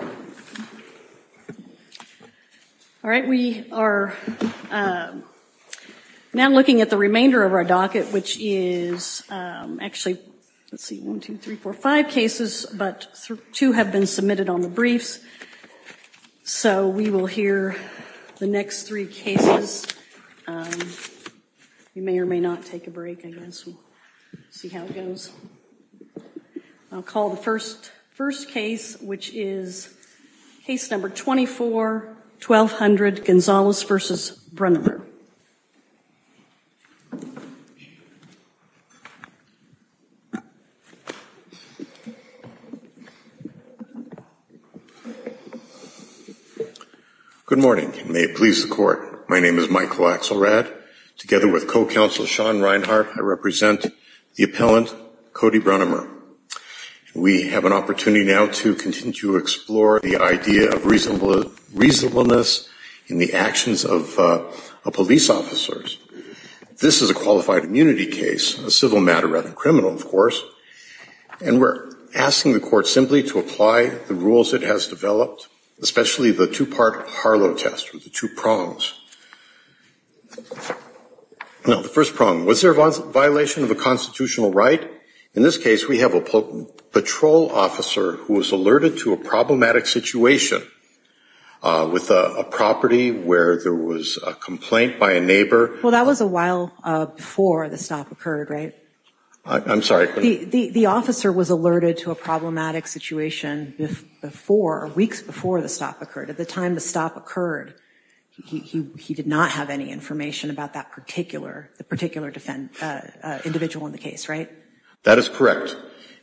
All right, we are now looking at the remainder of our docket, which is actually, let's see, one, two, three, four, five cases, but two have been submitted on the briefs. So we will hear the next three cases. We may or may not take a break, I guess. We'll see how it goes. I'll call the first case, which is case number 24, 1200, Gonzalez v. Brunnemer. Good morning, and may it please the Court. My name is Michael Axelrad. Together with Federal Counsel Sean Reinhart, I represent the appellant, Cody Brunnemer. We have an opportunity now to continue to explore the idea of reasonableness in the actions of police officers. This is a qualified immunity case, a civil matter rather than criminal, of course, and we're asking the Court simply to apply the rules it has developed, especially the two-part Harlow test with the two prongs. Now, the first prong, was there a violation of a constitutional right? In this case, we have a patrol officer who was alerted to a problematic situation with a property where there was a complaint by a neighbor. Well, that was a while before the stop occurred, right? I'm sorry. The officer was alerted to a problematic situation before, weeks before the stop occurred. At the time the stop occurred, he did not have any information about that particular individual in the case, right? That is correct.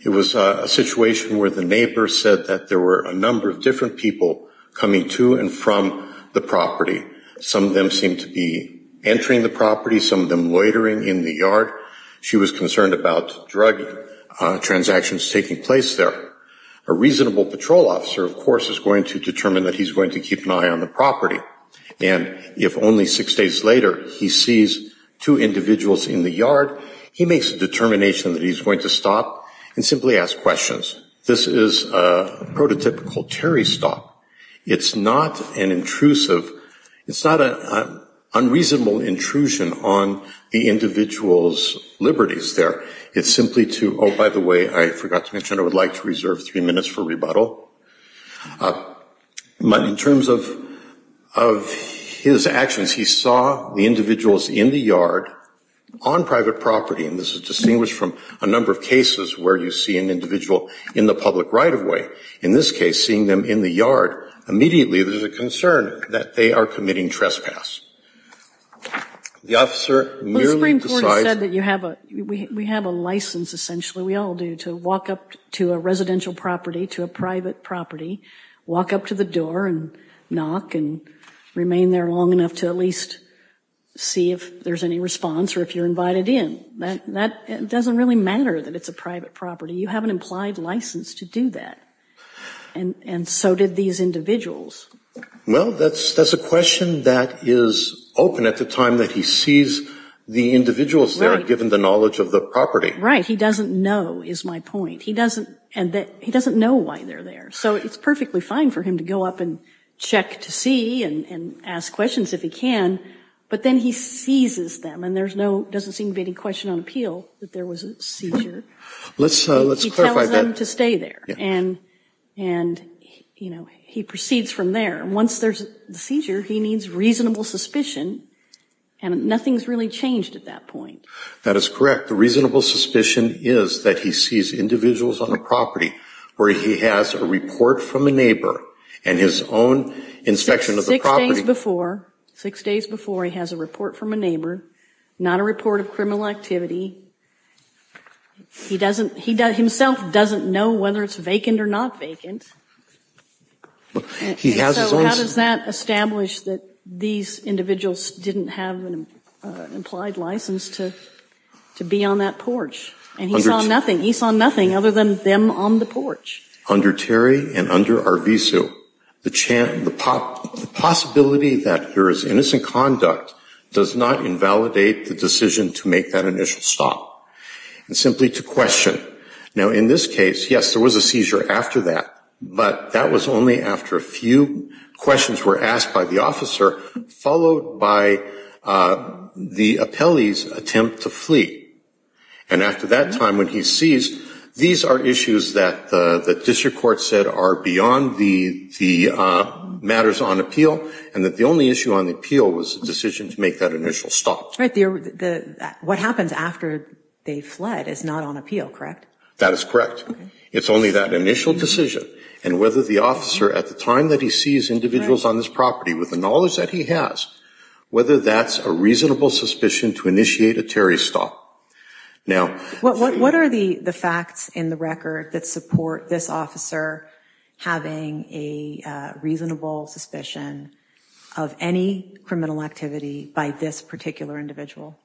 It was a situation where the neighbor said that there were a number of different people coming to and from the property. Some of them seemed to be entering the property, some of them loitering in the yard. She was concerned about drug transactions taking place there. A reasonable patrol officer, of course, is going to determine that he's going to keep an eye on the property. And if only six days later, he sees two individuals in the yard, he makes a determination that he's going to stop and simply ask questions. This is a prototypical Terry stop. It's not an intrusive, it's not an unreasonable intrusion on the individual's liberties there. It's simply to, oh, by the way, I forgot to mention I would like to reserve three minutes for rebuttal. But in terms of his actions, he saw the individuals in the yard, on private property, and this is distinguished from a number of cases where you see an individual in the public right-of-way. In this case, seeing them in the yard, immediately there's a concern that they are committing trespass. The officer merely decides- to a residential property, to a private property, walk up to the door and knock and remain there long enough to at least see if there's any response or if you're invited in. That doesn't really matter that it's a private property. You have an implied license to do that. And so did these individuals. Well, that's a question that is open at the time that he sees the individuals there, given the knowledge of the property. Right. He doesn't know, is my point. He doesn't know why they're there. So it's perfectly fine for him to go up and check to see and ask questions if he can. But then he seizes them and there's no, doesn't seem to be any question on appeal that there was a seizure. Let's clarify that. He tells them to stay there. And, you know, he proceeds from there. Once there's a seizure, he needs reasonable suspicion. And nothing's really changed at that point. That is correct. The reasonable suspicion is that he sees individuals on a property where he has a report from a neighbor and his own inspection of the property. Six days before, six days before, he has a report from a neighbor, not a report of criminal activity. He doesn't, he himself doesn't know whether it's vacant or not vacant. He has his own. How does that establish that these individuals didn't have an implied license to be on that porch? And he saw nothing. He saw nothing other than them on the porch. Under Terry and under Arvizu, the possibility that there is innocent conduct does not invalidate the decision to make that initial stop. And simply to question. Now, in this case, yes, there was a seizure after that. But that was only after a few questions were asked by the officer, followed by the appellee's attempt to flee. And after that time when he's seized, these are issues that the district court said are beyond the matters on appeal and that the only issue on appeal was the decision to make that initial stop. What happens after they fled is not on appeal, correct? That is correct. It's only that initial decision and whether the officer at the time that he sees individuals on this property with the knowledge that he has, whether that's a reasonable suspicion to initiate a Terry stop. Now, what are the facts in the record that support this officer having a reasonable suspicion of any criminal activity by this particular individual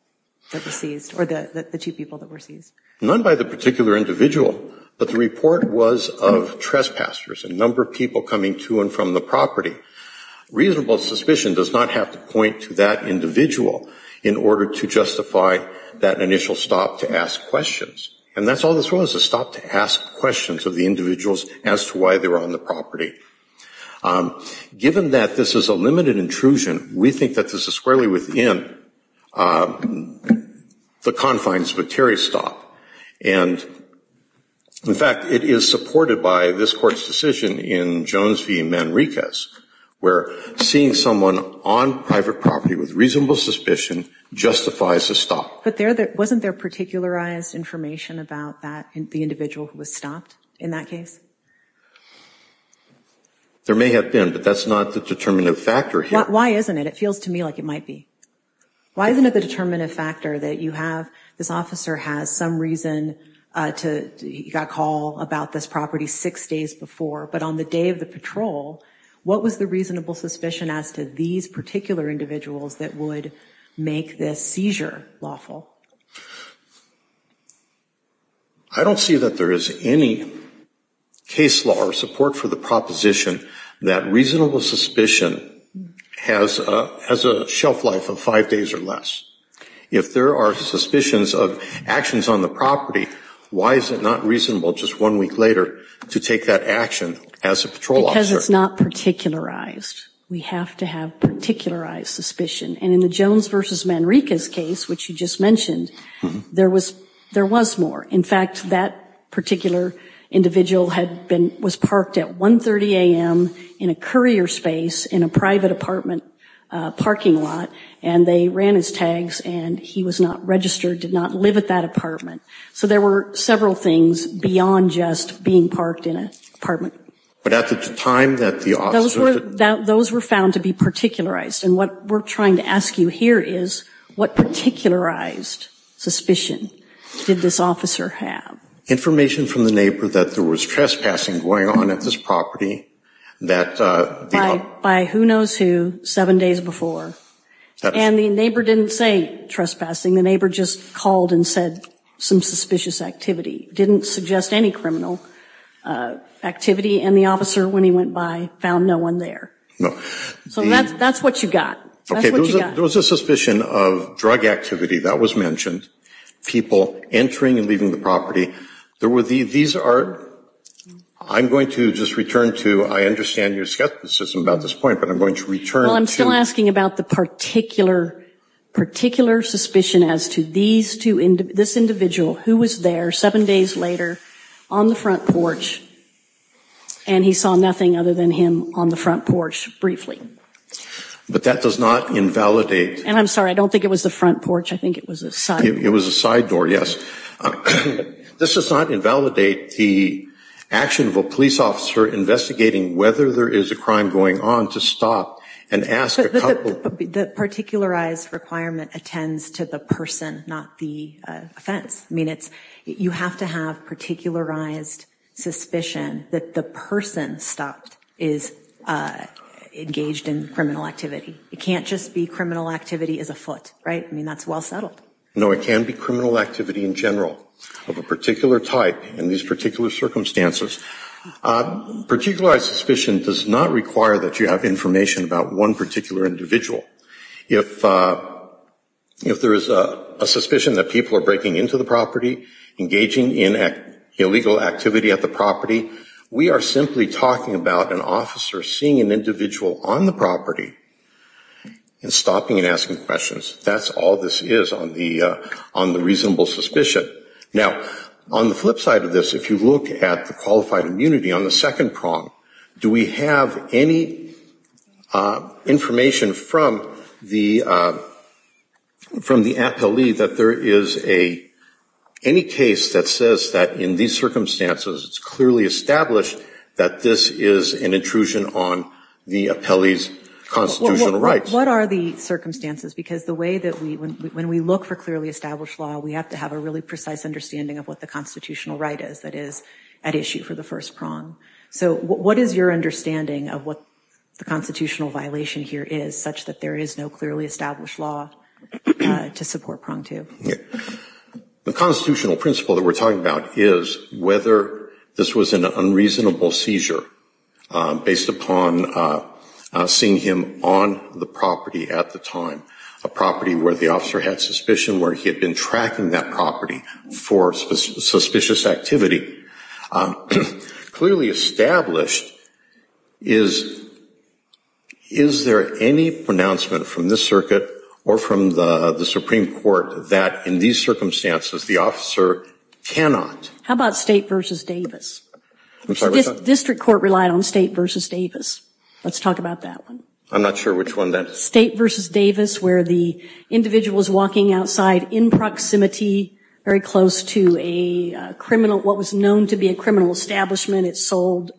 that was seized or the two people that were seized? None by the particular individual, but the report was of trespassers, a number of people coming to and from the property. Reasonable suspicion does not have to point to that individual in order to justify that initial stop to ask questions. And that's all this was, a stop to ask questions of the individuals as to why they were on the property. Given that this is a limited intrusion, we think that this is squarely within the confines of a Terry stop. And, in fact, it is supported by this Court's decision in Jones v. Manriquez where seeing someone on private property with reasonable suspicion justifies a stop. But wasn't there particularized information about that, the individual who was stopped in that case? There may have been, but that's not the determinative factor here. Why isn't it? It feels to me like it might be. Why isn't it the determinative factor that you have, this officer has some reason to, he got a call about this property six days before, but on the day of the patrol, what was the reasonable suspicion as to these particular individuals that would make this seizure lawful? I don't see that there is any case law or support for the proposition that reasonable suspicion has a shelf life of five days or less. If there are suspicions of actions on the property, why is it not reasonable just one week later to take that action as a patrol officer? Because it's not particularized. We have to have particularized suspicion. And in the Jones v. Manriquez case, which you just mentioned, there was more. In fact, that particular individual had been, was parked at 1.30 a.m. in a courier space in a private apartment parking lot, and they ran his tags, and he was not registered, did not live at that apartment. So there were several things beyond just being parked in an apartment. But at the time that the officer Those were, those were found to be particularized. And what we're trying to ask you here is, what particularized suspicion did this officer have? Information from the neighbor that there was trespassing going on at this property that By who knows who, seven days before. And the neighbor didn't say trespassing. The neighbor just called and said some suspicious activity. Didn't suggest any criminal activity. And the officer, when he went by, found no one there. So that's what you got. Okay, there was a suspicion of drug activity. That was mentioned. People entering and leaving the property. There were, these are, I'm going to just return to, I understand your skepticism about this point, but I'm going to return to Well, I'm still asking about the particular, particular suspicion as to these two, this individual who was there seven days later on the front porch, and he saw nothing other than him on the front porch briefly. But that does not invalidate And I'm sorry, I don't think it was the front porch. I think it was a side door, yes. This does not invalidate the action of a police officer investigating whether there is a crime going on to stop and ask a couple But the particularized requirement attends to the person, not the offense. I mean, it's, you have to have particularized suspicion that the person stopped is engaged in criminal activity. It can't just be criminal activity as a foot, right? I mean, that's well settled. No, it can be criminal activity in general of a particular type in these particular circumstances. Particularized suspicion does not require that you have information about one particular individual. If, if there is a suspicion that people are breaking into the property, engaging in illegal activity at the property, we are simply talking about an officer seeing an individual on the property and stopping and asking questions. That's all this is on the reasonable suspicion. Now, on the flip side of this, if you look at the qualified immunity on the second prong, do we have any information from the, from the APELE that there is a, any case that says that in these circumstances it's clearly established that this is an intrusion on the APELE's constitutional rights? What are the circumstances? Because the way that we, when we look for clearly established law, we have to have a really precise understanding of what the constitutional right is that is at issue for the first prong. So what is your understanding of what the constitutional violation here is such that there is no clearly established law to support prong two? The constitutional principle that we're talking about is whether this was an unreasonable seizure based upon seeing him on the property at the time, a property where the officer had suspicion, where he had been tracking that property for suspicious activity. Clearly that in these circumstances, the officer cannot. How about State v. Davis? District Court relied on State v. Davis. Let's talk about that one. I'm not sure which one that is. State v. Davis where the individual is walking outside in proximity, very close to a criminal, what was known to be a criminal establishment. It sold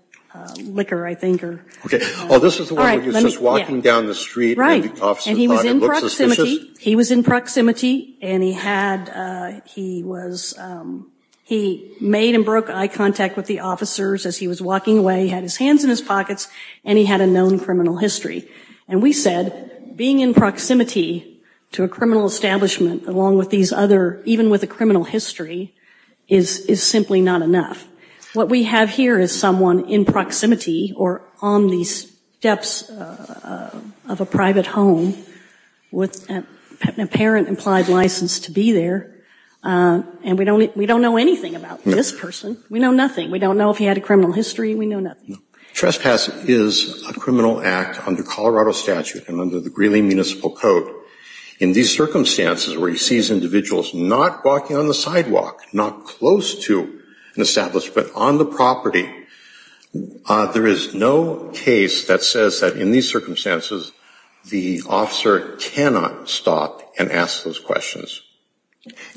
liquor, I think, or... Okay. Oh, this is the one where he's just walking down the street and the officer thought it looked suspicious? He was in proximity and he had, he was, he made and broke eye contact with the officers as he was walking away. He had his hands in his pockets and he had a known criminal history. And we said being in proximity to a criminal establishment along with these other, even with a criminal history, is simply not enough. What we have here is someone in proximity or on the steps of a private home with an apparent implied license to be there. And we don't, we don't know anything about this person. We know nothing. We don't know if he had a criminal history. We know nothing. Trespass is a criminal act under Colorado statute and under the Greeley Municipal Code. In these circumstances where he sees individuals not walking on the sidewalk, not close to an establishment, on the property, there is no case that says that in these circumstances the officer cannot stop and ask those questions.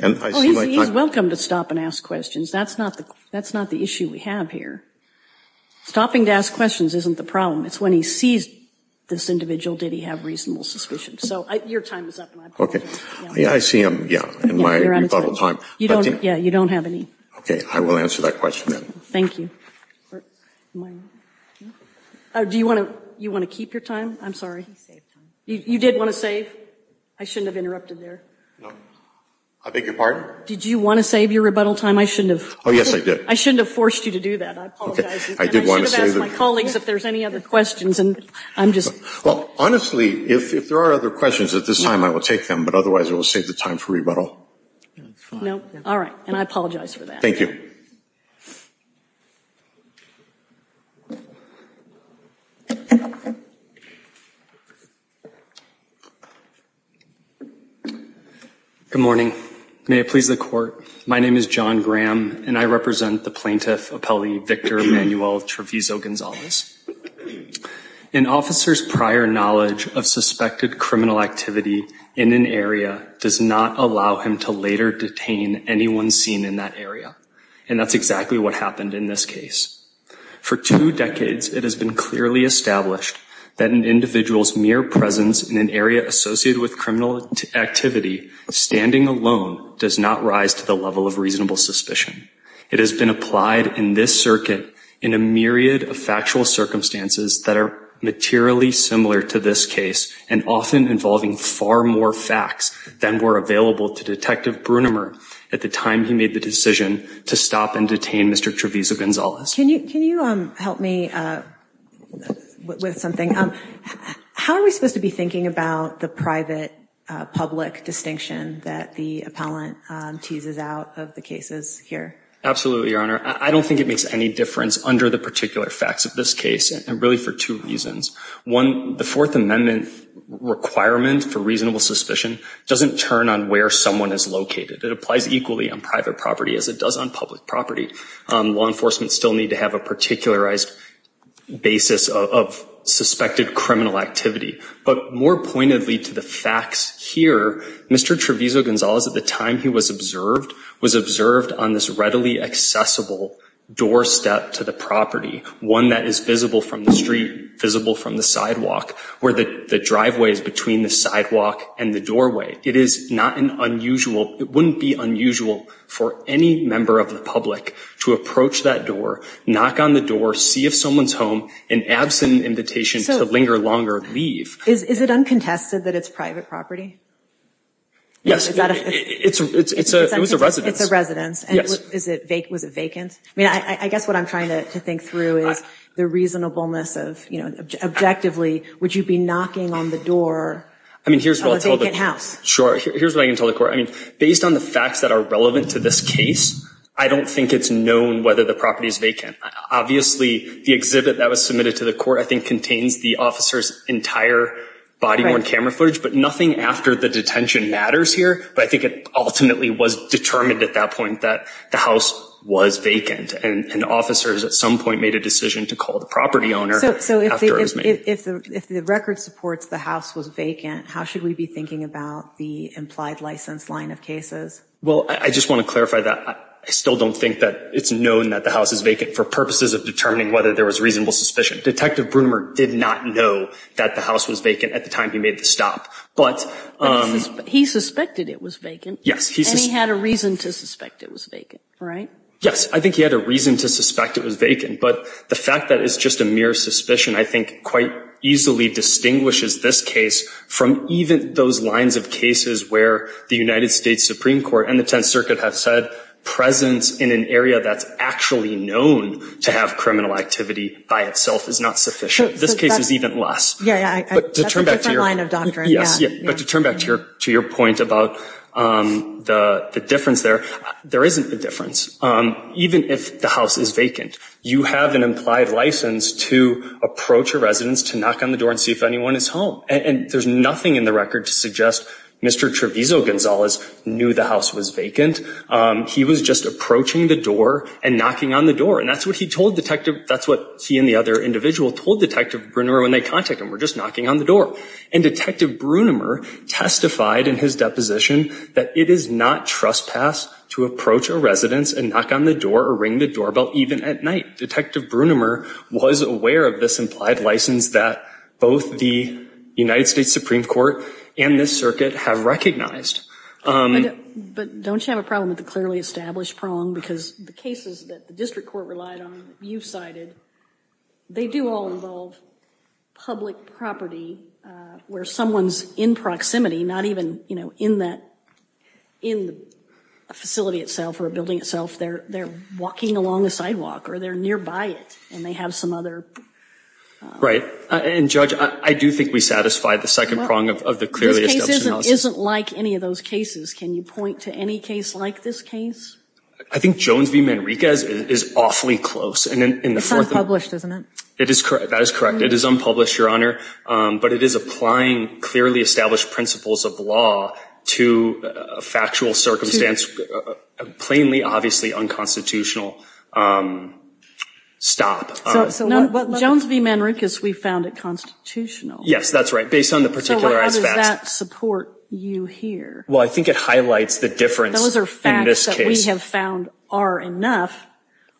And I see my time... Well, he's welcome to stop and ask questions. That's not the, that's not the issue we have here. Stopping to ask questions isn't the problem. It's when he sees this individual did he have reasonable suspicion. So, your time is up, and I apologize. Okay. Yeah, I see him, yeah, in my rebuttal time. You don't, yeah, you don't have any... Okay, I will answer that question then. Thank you. Do you want to, you want to keep your time? I'm sorry. You did want to save? I shouldn't have interrupted there. No. I beg your pardon? Did you want to save your rebuttal time? I shouldn't have... Oh, yes, I did. I shouldn't have forced you to do that. I apologize. Okay. I did want to save it. And I should have asked my colleagues if there's any other questions, and I'm just... Well, honestly, if there are other questions at this time, I will take them, but otherwise it will save the time for rebuttal. No, all right. And I apologize for that. Thank you. Good morning. May it please the court. My name is John Graham, and I represent the plaintiff, Appellee Victor Emanuel Trevizo-Gonzalez. An officer's prior knowledge of suspected criminal activity in an area does not allow him to later detain anyone seen in that area. And that's exactly what happened in this case. For two decades, it has been clearly established that an individual's mere presence in an area associated with criminal activity, standing alone, does not rise to the level of reasonable suspicion. It has been applied in this circuit in a myriad of factual circumstances that are materially similar to this case and often involving far more facts than were available to Detective Brunimer at the time he made the decision to stop and detain Mr. Trevizo-Gonzalez. Can you help me with something? How are we supposed to be thinking about the private-public distinction that the appellant teases out of the cases here? Absolutely, Your Honor. I don't think it makes any difference under the particular facts of this case, and really for two reasons. One, the Fourth Amendment requirement for reasonable suspicion doesn't turn on where someone is located. It applies equally on private property as it does on public property. Law enforcement still need to have a particularized basis of suspected criminal activity. But more pointedly to the facts here, Mr. Trevizo-Gonzalez, at the time he was observed, was observed on this readily accessible doorstep to the property, one that is visible from the street, visible from the sidewalk, where the driveway is between the sidewalk and the doorway. It is not an unusual, it wouldn't be unusual for any member of the public to approach that door, knock on the door, see if someone's home, and absent an invitation to linger longer, leave. Is it uncontested that it's private property? Yes, it's a residence. It's a residence. And was it vacant? I mean, I guess what I'm trying to think through is the reasonableness of, you know, objectively, would you be knocking on the door of a vacant house? Sure. Here's what I can tell the court. I mean, based on the facts that are relevant to this case, I don't think it's known whether the property is vacant. Obviously, the exhibit that was submitted to the court, I think, contains the officer's entire body-worn camera footage, but nothing after the detention matters here. But I think it ultimately was determined at that point that the house was vacant, and officers at some point made a decision to call the property owner after it was made. So if the record supports the house was vacant, how should we be thinking about the implied license line of cases? Well, I just want to clarify that. I still don't think that it's known that the house is vacant for purposes of determining whether there was reasonable suspicion. Detective Broomer did not know that the house was vacant at the time he made the stop, but... He suspected it was vacant. Yes. And he had a reason to suspect it was vacant, right? Yes, I think he had a reason to suspect it was vacant, but the fact that it's just a mere suspicion, I think, quite easily distinguishes this case from even those lines of cases where the United States Supreme Court and the Tenth Circuit have said, presence in an area that's actually known to have criminal activity by itself is not sufficient. This case is even less. Yeah, yeah, that's a different line of doctrine, yeah. But to turn back to your point about the difference there, there isn't a difference. Even if the house is vacant, you have an implied license to approach a residence, to knock on the door and see if anyone is home. And there's nothing in the record to suggest Mr Trevizo-Gonzalez knew the house was vacant. He was just approaching the door and knocking on the door. And that's what he told Detective... That's what he and the other individual told Detective Broomer when they contacted him, we're just knocking on the door. And Detective Broomer testified in his deposition that it is not trespass to approach a residence and knock on the door or ring the doorbell even at night. Detective Broomer was aware of this implied license that both the United States Supreme Court and the Circuit have recognized. But don't you have a problem with the clearly established prong? Because the cases that the District Court relied on, you cited, they do all involve public property where someone's in proximity, not even in that, in a facility itself or a building itself, they're walking along the sidewalk or they're nearby it and they have some other... Right. And Judge, I do think we satisfy the second prong of the clearly established analysis. This case isn't like any of those cases. Can you point to any case like this case? I think Jones v. Manriquez is awfully close. And then in the fourth... It's unpublished, isn't it? It is correct. That is correct. It is unpublished, Your Honor. But it is applying clearly established principles of law to a factual circumstance, plainly, obviously unconstitutional. Jones v. Manriquez, we found it constitutional. Yes, that's right. Based on the particularized facts. So how does that support you here? Well, I think it highlights the difference in this case. Those are facts that we have found are enough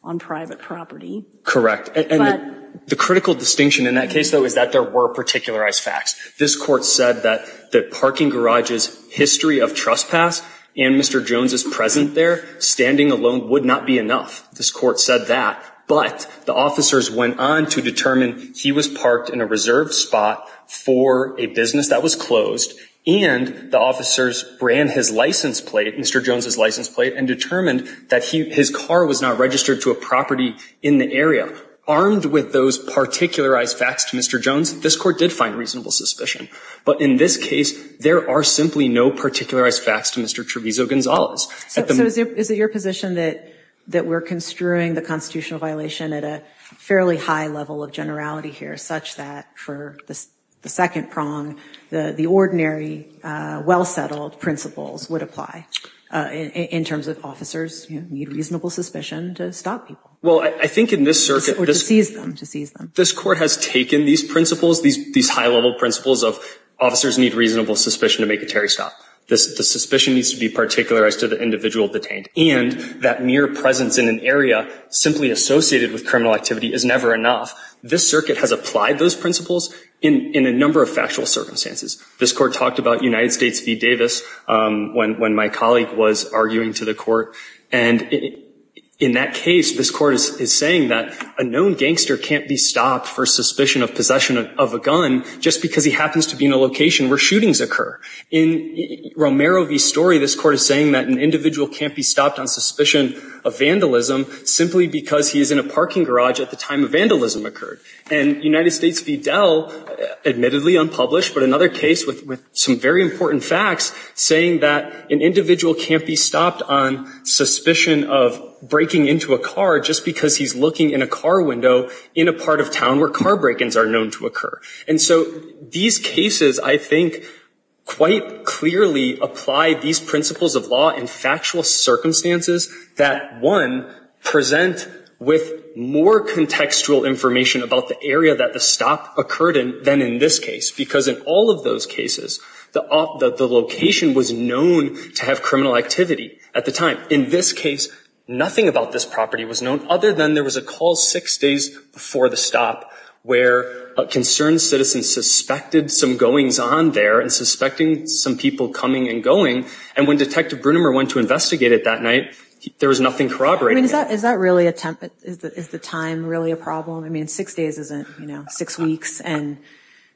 on private property. Correct. And the critical distinction in that case though is that there were particularized facts. This court said that the parking garage's history of trespass and Mr. Jones's present there, standing alone would not be enough. This court said that. But the officers went on to determine he was parked in a reserved spot for a business that was closed. And the officers ran his license plate, Mr. Jones's license plate, and determined that his car was not registered to a property in the area. Armed with those particularized facts to Mr. Jones, this court did find reasonable suspicion. But in this case, there are simply no particularized facts to Mr. Trevizo Gonzalez. Is it your position that we're construing the constitutional violation at a fairly high level of generality here, such that for the second prong, the ordinary, well-settled principles would apply in terms of officers need reasonable suspicion to stop people? Well, I think in this circuit- Or to seize them, to seize them. This court has taken these principles, these high-level principles of officers need reasonable suspicion to make a Terry stop. The suspicion needs to be particularized to the individual detained. And that mere presence in an area simply associated with criminal activity is never enough. This circuit has applied those principles in a number of factual circumstances. This court talked about United States v. Davis when my colleague was arguing to the court. And in that case, this court is saying that a known gangster can't be stopped for suspicion of possession of a gun just because he happens to be in a location where shootings occur. In Romero v. Story, this court is saying that an individual can't be stopped on suspicion of vandalism simply because he is in a parking garage at the time a vandalism occurred. And United States v. Dell, admittedly unpublished, but another case with some very important facts saying that an individual can't be stopped on suspicion of breaking into a car just because he's looking in a car window in a part of town where car break-ins are known to occur. And so these cases, I think, quite clearly apply these principles of law in factual circumstances that one, present with more contextual information about the area that the stop occurred in than in this case. Because in all of those cases, the location was known to have criminal activity at the time. In this case, nothing about this property was known other than there was a call six days before the stop where a concerned citizen suspected some goings on there and suspecting some people coming and going. And when Detective Brunimer went to investigate it that night, there was nothing corroborated. Is that really a temp, is the time really a problem? I mean, six days isn't, you know, six weeks. And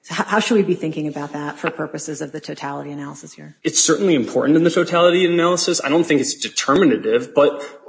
how should we be thinking about that for purposes of the totality analysis here? It's certainly important in the totality analysis. I don't think it's determinative, but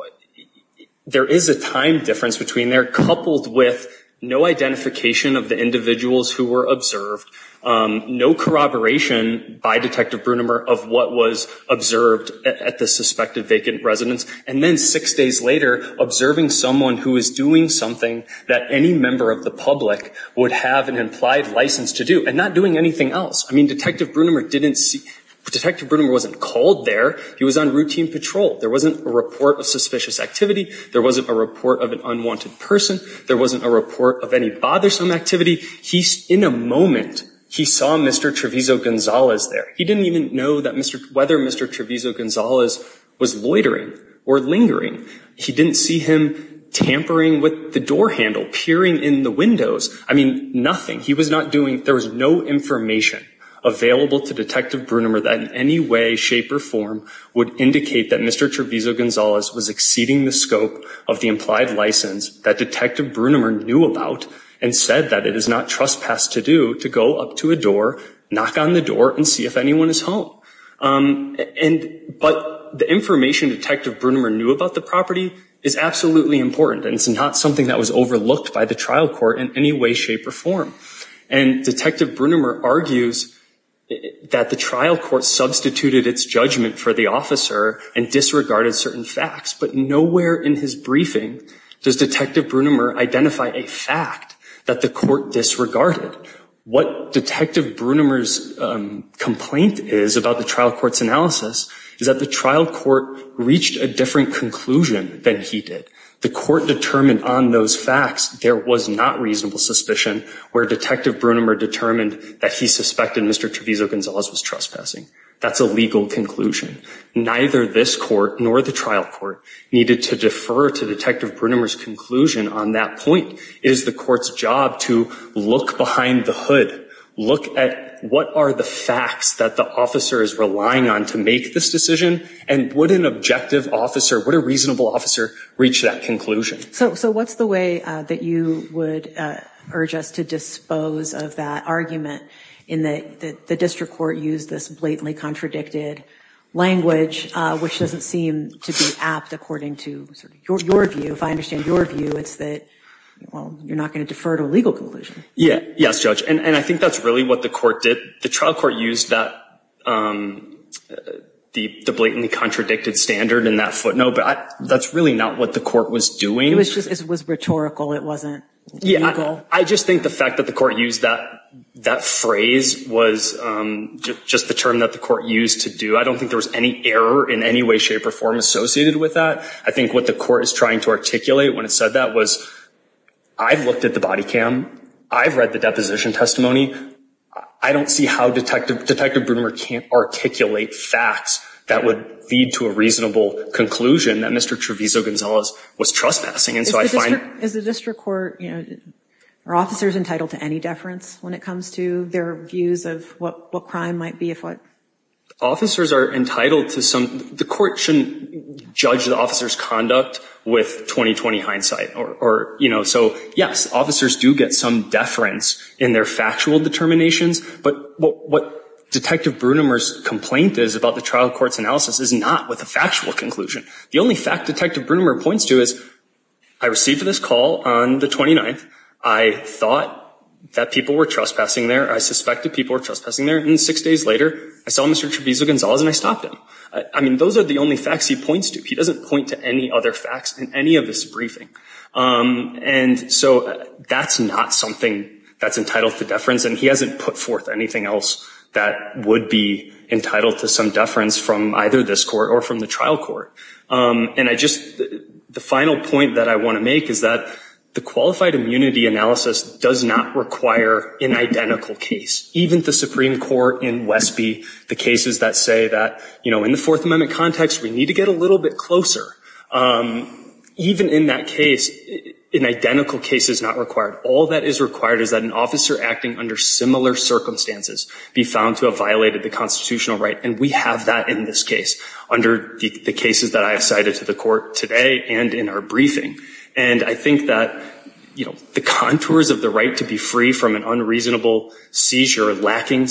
there is a time difference between there coupled with no identification of the individuals who were observed, no corroboration by Detective Brunimer of what was observed at the suspected vacant residence. And then six days later, observing someone who is doing something that any member of the public would have an implied license to do and not doing anything else. I mean, Detective Brunimer didn't see, Detective Brunimer wasn't called there. He was on routine patrol. There wasn't a report of suspicious activity. There wasn't a report of an unwanted person. There wasn't a report of any bothersome activity. He, in a moment, he saw Mr. Trevizo Gonzalez there. He didn't even know whether Mr. Trevizo Gonzalez was loitering or lingering. He didn't see him tampering with the door handle, peering in the windows. I mean, nothing. He was not doing, there was no information available to Detective Brunimer that in any way, shape or form would indicate that Mr. Trevizo Gonzalez was exceeding the scope of the implied license that Detective Brunimer knew about and said that it is not trespassed to do to go up to a door, knock on the door, and see if anyone is home. But the information Detective Brunimer knew about the property is absolutely important. And it's not something that was overlooked by the trial court in any way, shape, or form. And Detective Brunimer argues that the trial court substituted its judgment for the officer and disregarded certain facts. But nowhere in his briefing does Detective Brunimer identify a fact that the court disregarded. What Detective Brunimer's complaint is about the trial court's analysis is that the trial court reached a different conclusion than he did. The court determined on those facts there was not reasonable suspicion where Detective Brunimer determined that he suspected Mr. Trevizo Gonzalez was trespassing. That's a legal conclusion. Neither this court nor the trial court needed to defer to Detective Brunimer's conclusion on that point. It is the court's job to look behind the hood, look at what are the facts that the officer is relying on to make this decision, and would an objective officer, would a reasonable officer, reach that conclusion? So what's the way that you would urge us to dispose of that argument in that the district court used this blatantly contradicted language, which doesn't seem to be apt according to your view. If I understand your view, it's that, well, you're not gonna defer to a legal conclusion. Yeah, yes, Judge. And I think that's really what the court did. The trial court used the blatantly contradicted standard in that footnote, but that's really not what the court was doing. It was just, it was rhetorical. It wasn't legal. I just think the fact that the court used that phrase was just the term that the court used to do. I don't think there was any error in any way, shape, or form associated with that. I think what the court is trying to articulate when it said that was, I've looked at the body cam. I've read the deposition testimony. I don't see how Detective Brunimer can't articulate facts that would lead to a reasonable conclusion that Mr. Treviso-Gonzalez was trespassing. And so I find- Is the district court, are officers entitled to any deference when it comes to their views of what crime might be, if what? Officers are entitled to some, the court shouldn't judge the officer's conduct with 20-20 hindsight. Or, you know, so yes, officers do get some deference in their factual determinations, but what Detective Brunimer's complaint is about the trial court's analysis is not with a factual conclusion. The only fact Detective Brunimer points to is, I received this call on the 29th. I thought that people were trespassing there. I suspected people were trespassing there. And six days later, I saw Mr. Treviso-Gonzalez and I stopped him. I mean, those are the only facts he points to. He doesn't point to any other facts in any of this briefing. And so that's not something that's entitled to deference, and he hasn't put forth anything else that would be entitled to some deference from either this court or from the trial court. And I just, the final point that I wanna make is that the qualified immunity analysis does not require an identical case. Even the Supreme Court in Westby, the cases that say that, you know, in the Fourth Amendment context, we need to get a little bit closer. Even in that case, an identical case is not required. All that is required is that an officer acting under similar circumstances, be found to have violated the constitutional right. And we have that in this case, under the cases that I have cited to the court today and in our briefing. And I think that, you know, the contours of the right to be free from an unreasonable seizure, lacking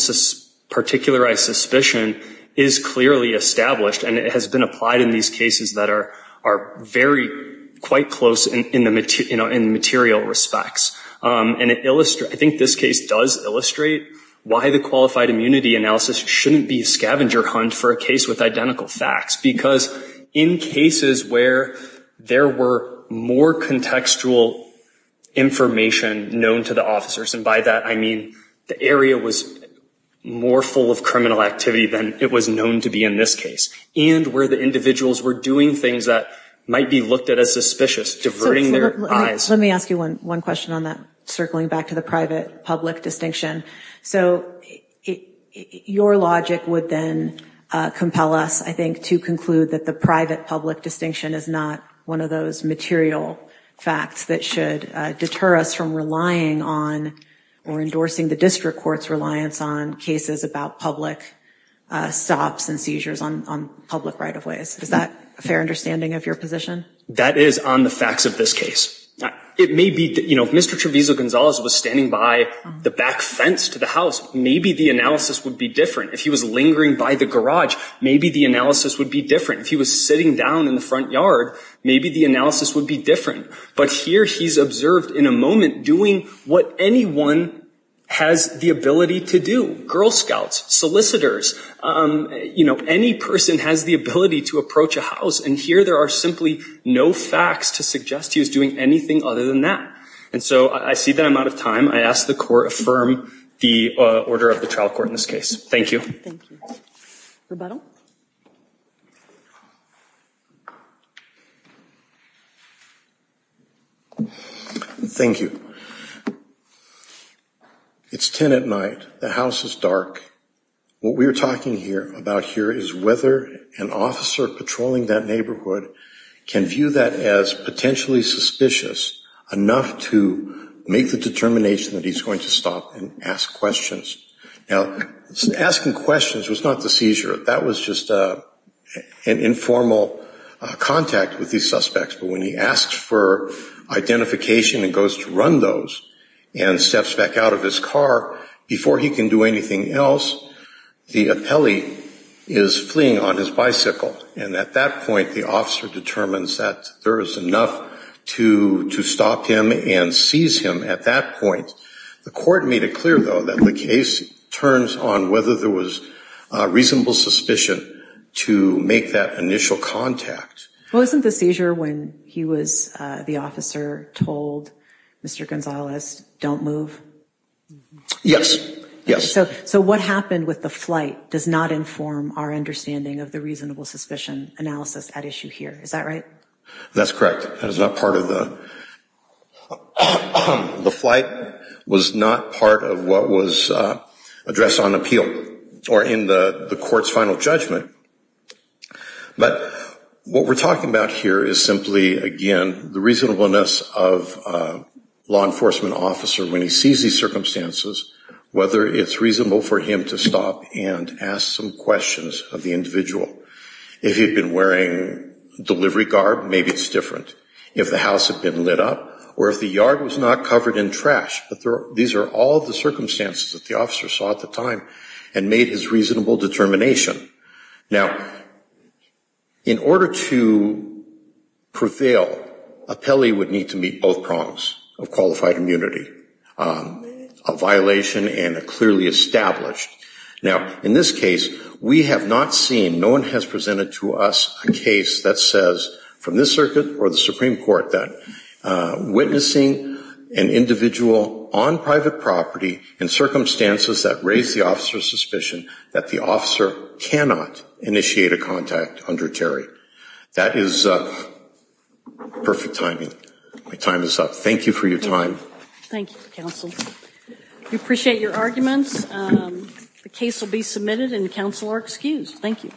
particularized suspicion, is clearly established. And it has been applied in these cases that are very, quite close in material respects. And it illustrates, I think this case does illustrate why the qualified immunity analysis shouldn't be a scavenger hunt for a case with identical facts. Because in cases where there were more contextual information known to the officers, and by that I mean the area was more full of criminal activity than it was known to be in this case. And where the individuals were doing things that might be looked at as suspicious, diverting their eyes. Let me ask you one question on that, circling back to the private-public distinction. So your logic would then compel us, I think, to conclude that the private-public distinction is not one of those material facts that should deter us from relying on, or endorsing the district court's reliance on, cases about public stops and seizures on public right-of-ways. Is that a fair understanding of your position? That is on the facts of this case. It may be, you know, if Mr. Trevizo Gonzalez was standing by the back fence to the house, maybe the analysis would be different. If he was lingering by the garage, maybe the analysis would be different. If he was sitting down in the front yard, maybe the analysis would be different. But here he's observed in a moment doing what anyone has the ability to do. Girl scouts, solicitors, you know, any person has the ability to approach a house. And here there are simply no facts to suggest he was doing anything other than that. And so I see that I'm out of time. I ask the court affirm the order of the trial court in this case. Thank you. Thank you. Rebettal? Thank you. It's 10 at night. The house is dark. What we are talking about here is whether an officer patrolling that neighborhood can view that as potentially suspicious enough to make the determination that he's going to stop and ask questions. Now, asking questions was not the seizure. That was just an informal contact with these suspects. But when he asks for identification and goes to run those and steps back out of his car before he can do anything else, the appellee is fleeing on his bicycle. And at that point, the officer determines that there is enough to stop him and seize him at that point. The court made it clear, though, that the case turns on whether there was reasonable suspicion to make that initial contact. Well, isn't the seizure when he was the officer told Mr. Gonzalez, don't move? Yes, yes. So what happened with the flight does not inform our understanding of the reasonable suspicion analysis at issue here. Is that right? That's correct. That is not part of the... The flight was not part of what was addressed on appeal or in the court's final judgment. But what we're talking about here is simply, again, the reasonableness of a law enforcement officer when he sees these circumstances, whether it's reasonable for him to stop and ask some questions of the individual. If he'd been wearing delivery garb, maybe it's different. If the house had been lit up or if the yard was not covered in trash, but these are all the circumstances that the officer saw at the time and made his reasonable determination. Now, in order to prevail, appellee would need to meet both prongs of qualified immunity, a violation and a clearly established. Now, in this case, we have not seen, no one has presented to us a case that says, from this circuit or the Supreme Court, that witnessing an individual on private property in circumstances that raise the officer's suspicion that the officer cannot initiate a contact under Terry. That is perfect timing. My time is up. Thank you for your time. Thank you, counsel. We appreciate your arguments. The case will be submitted and the counsel are excused. Thank you.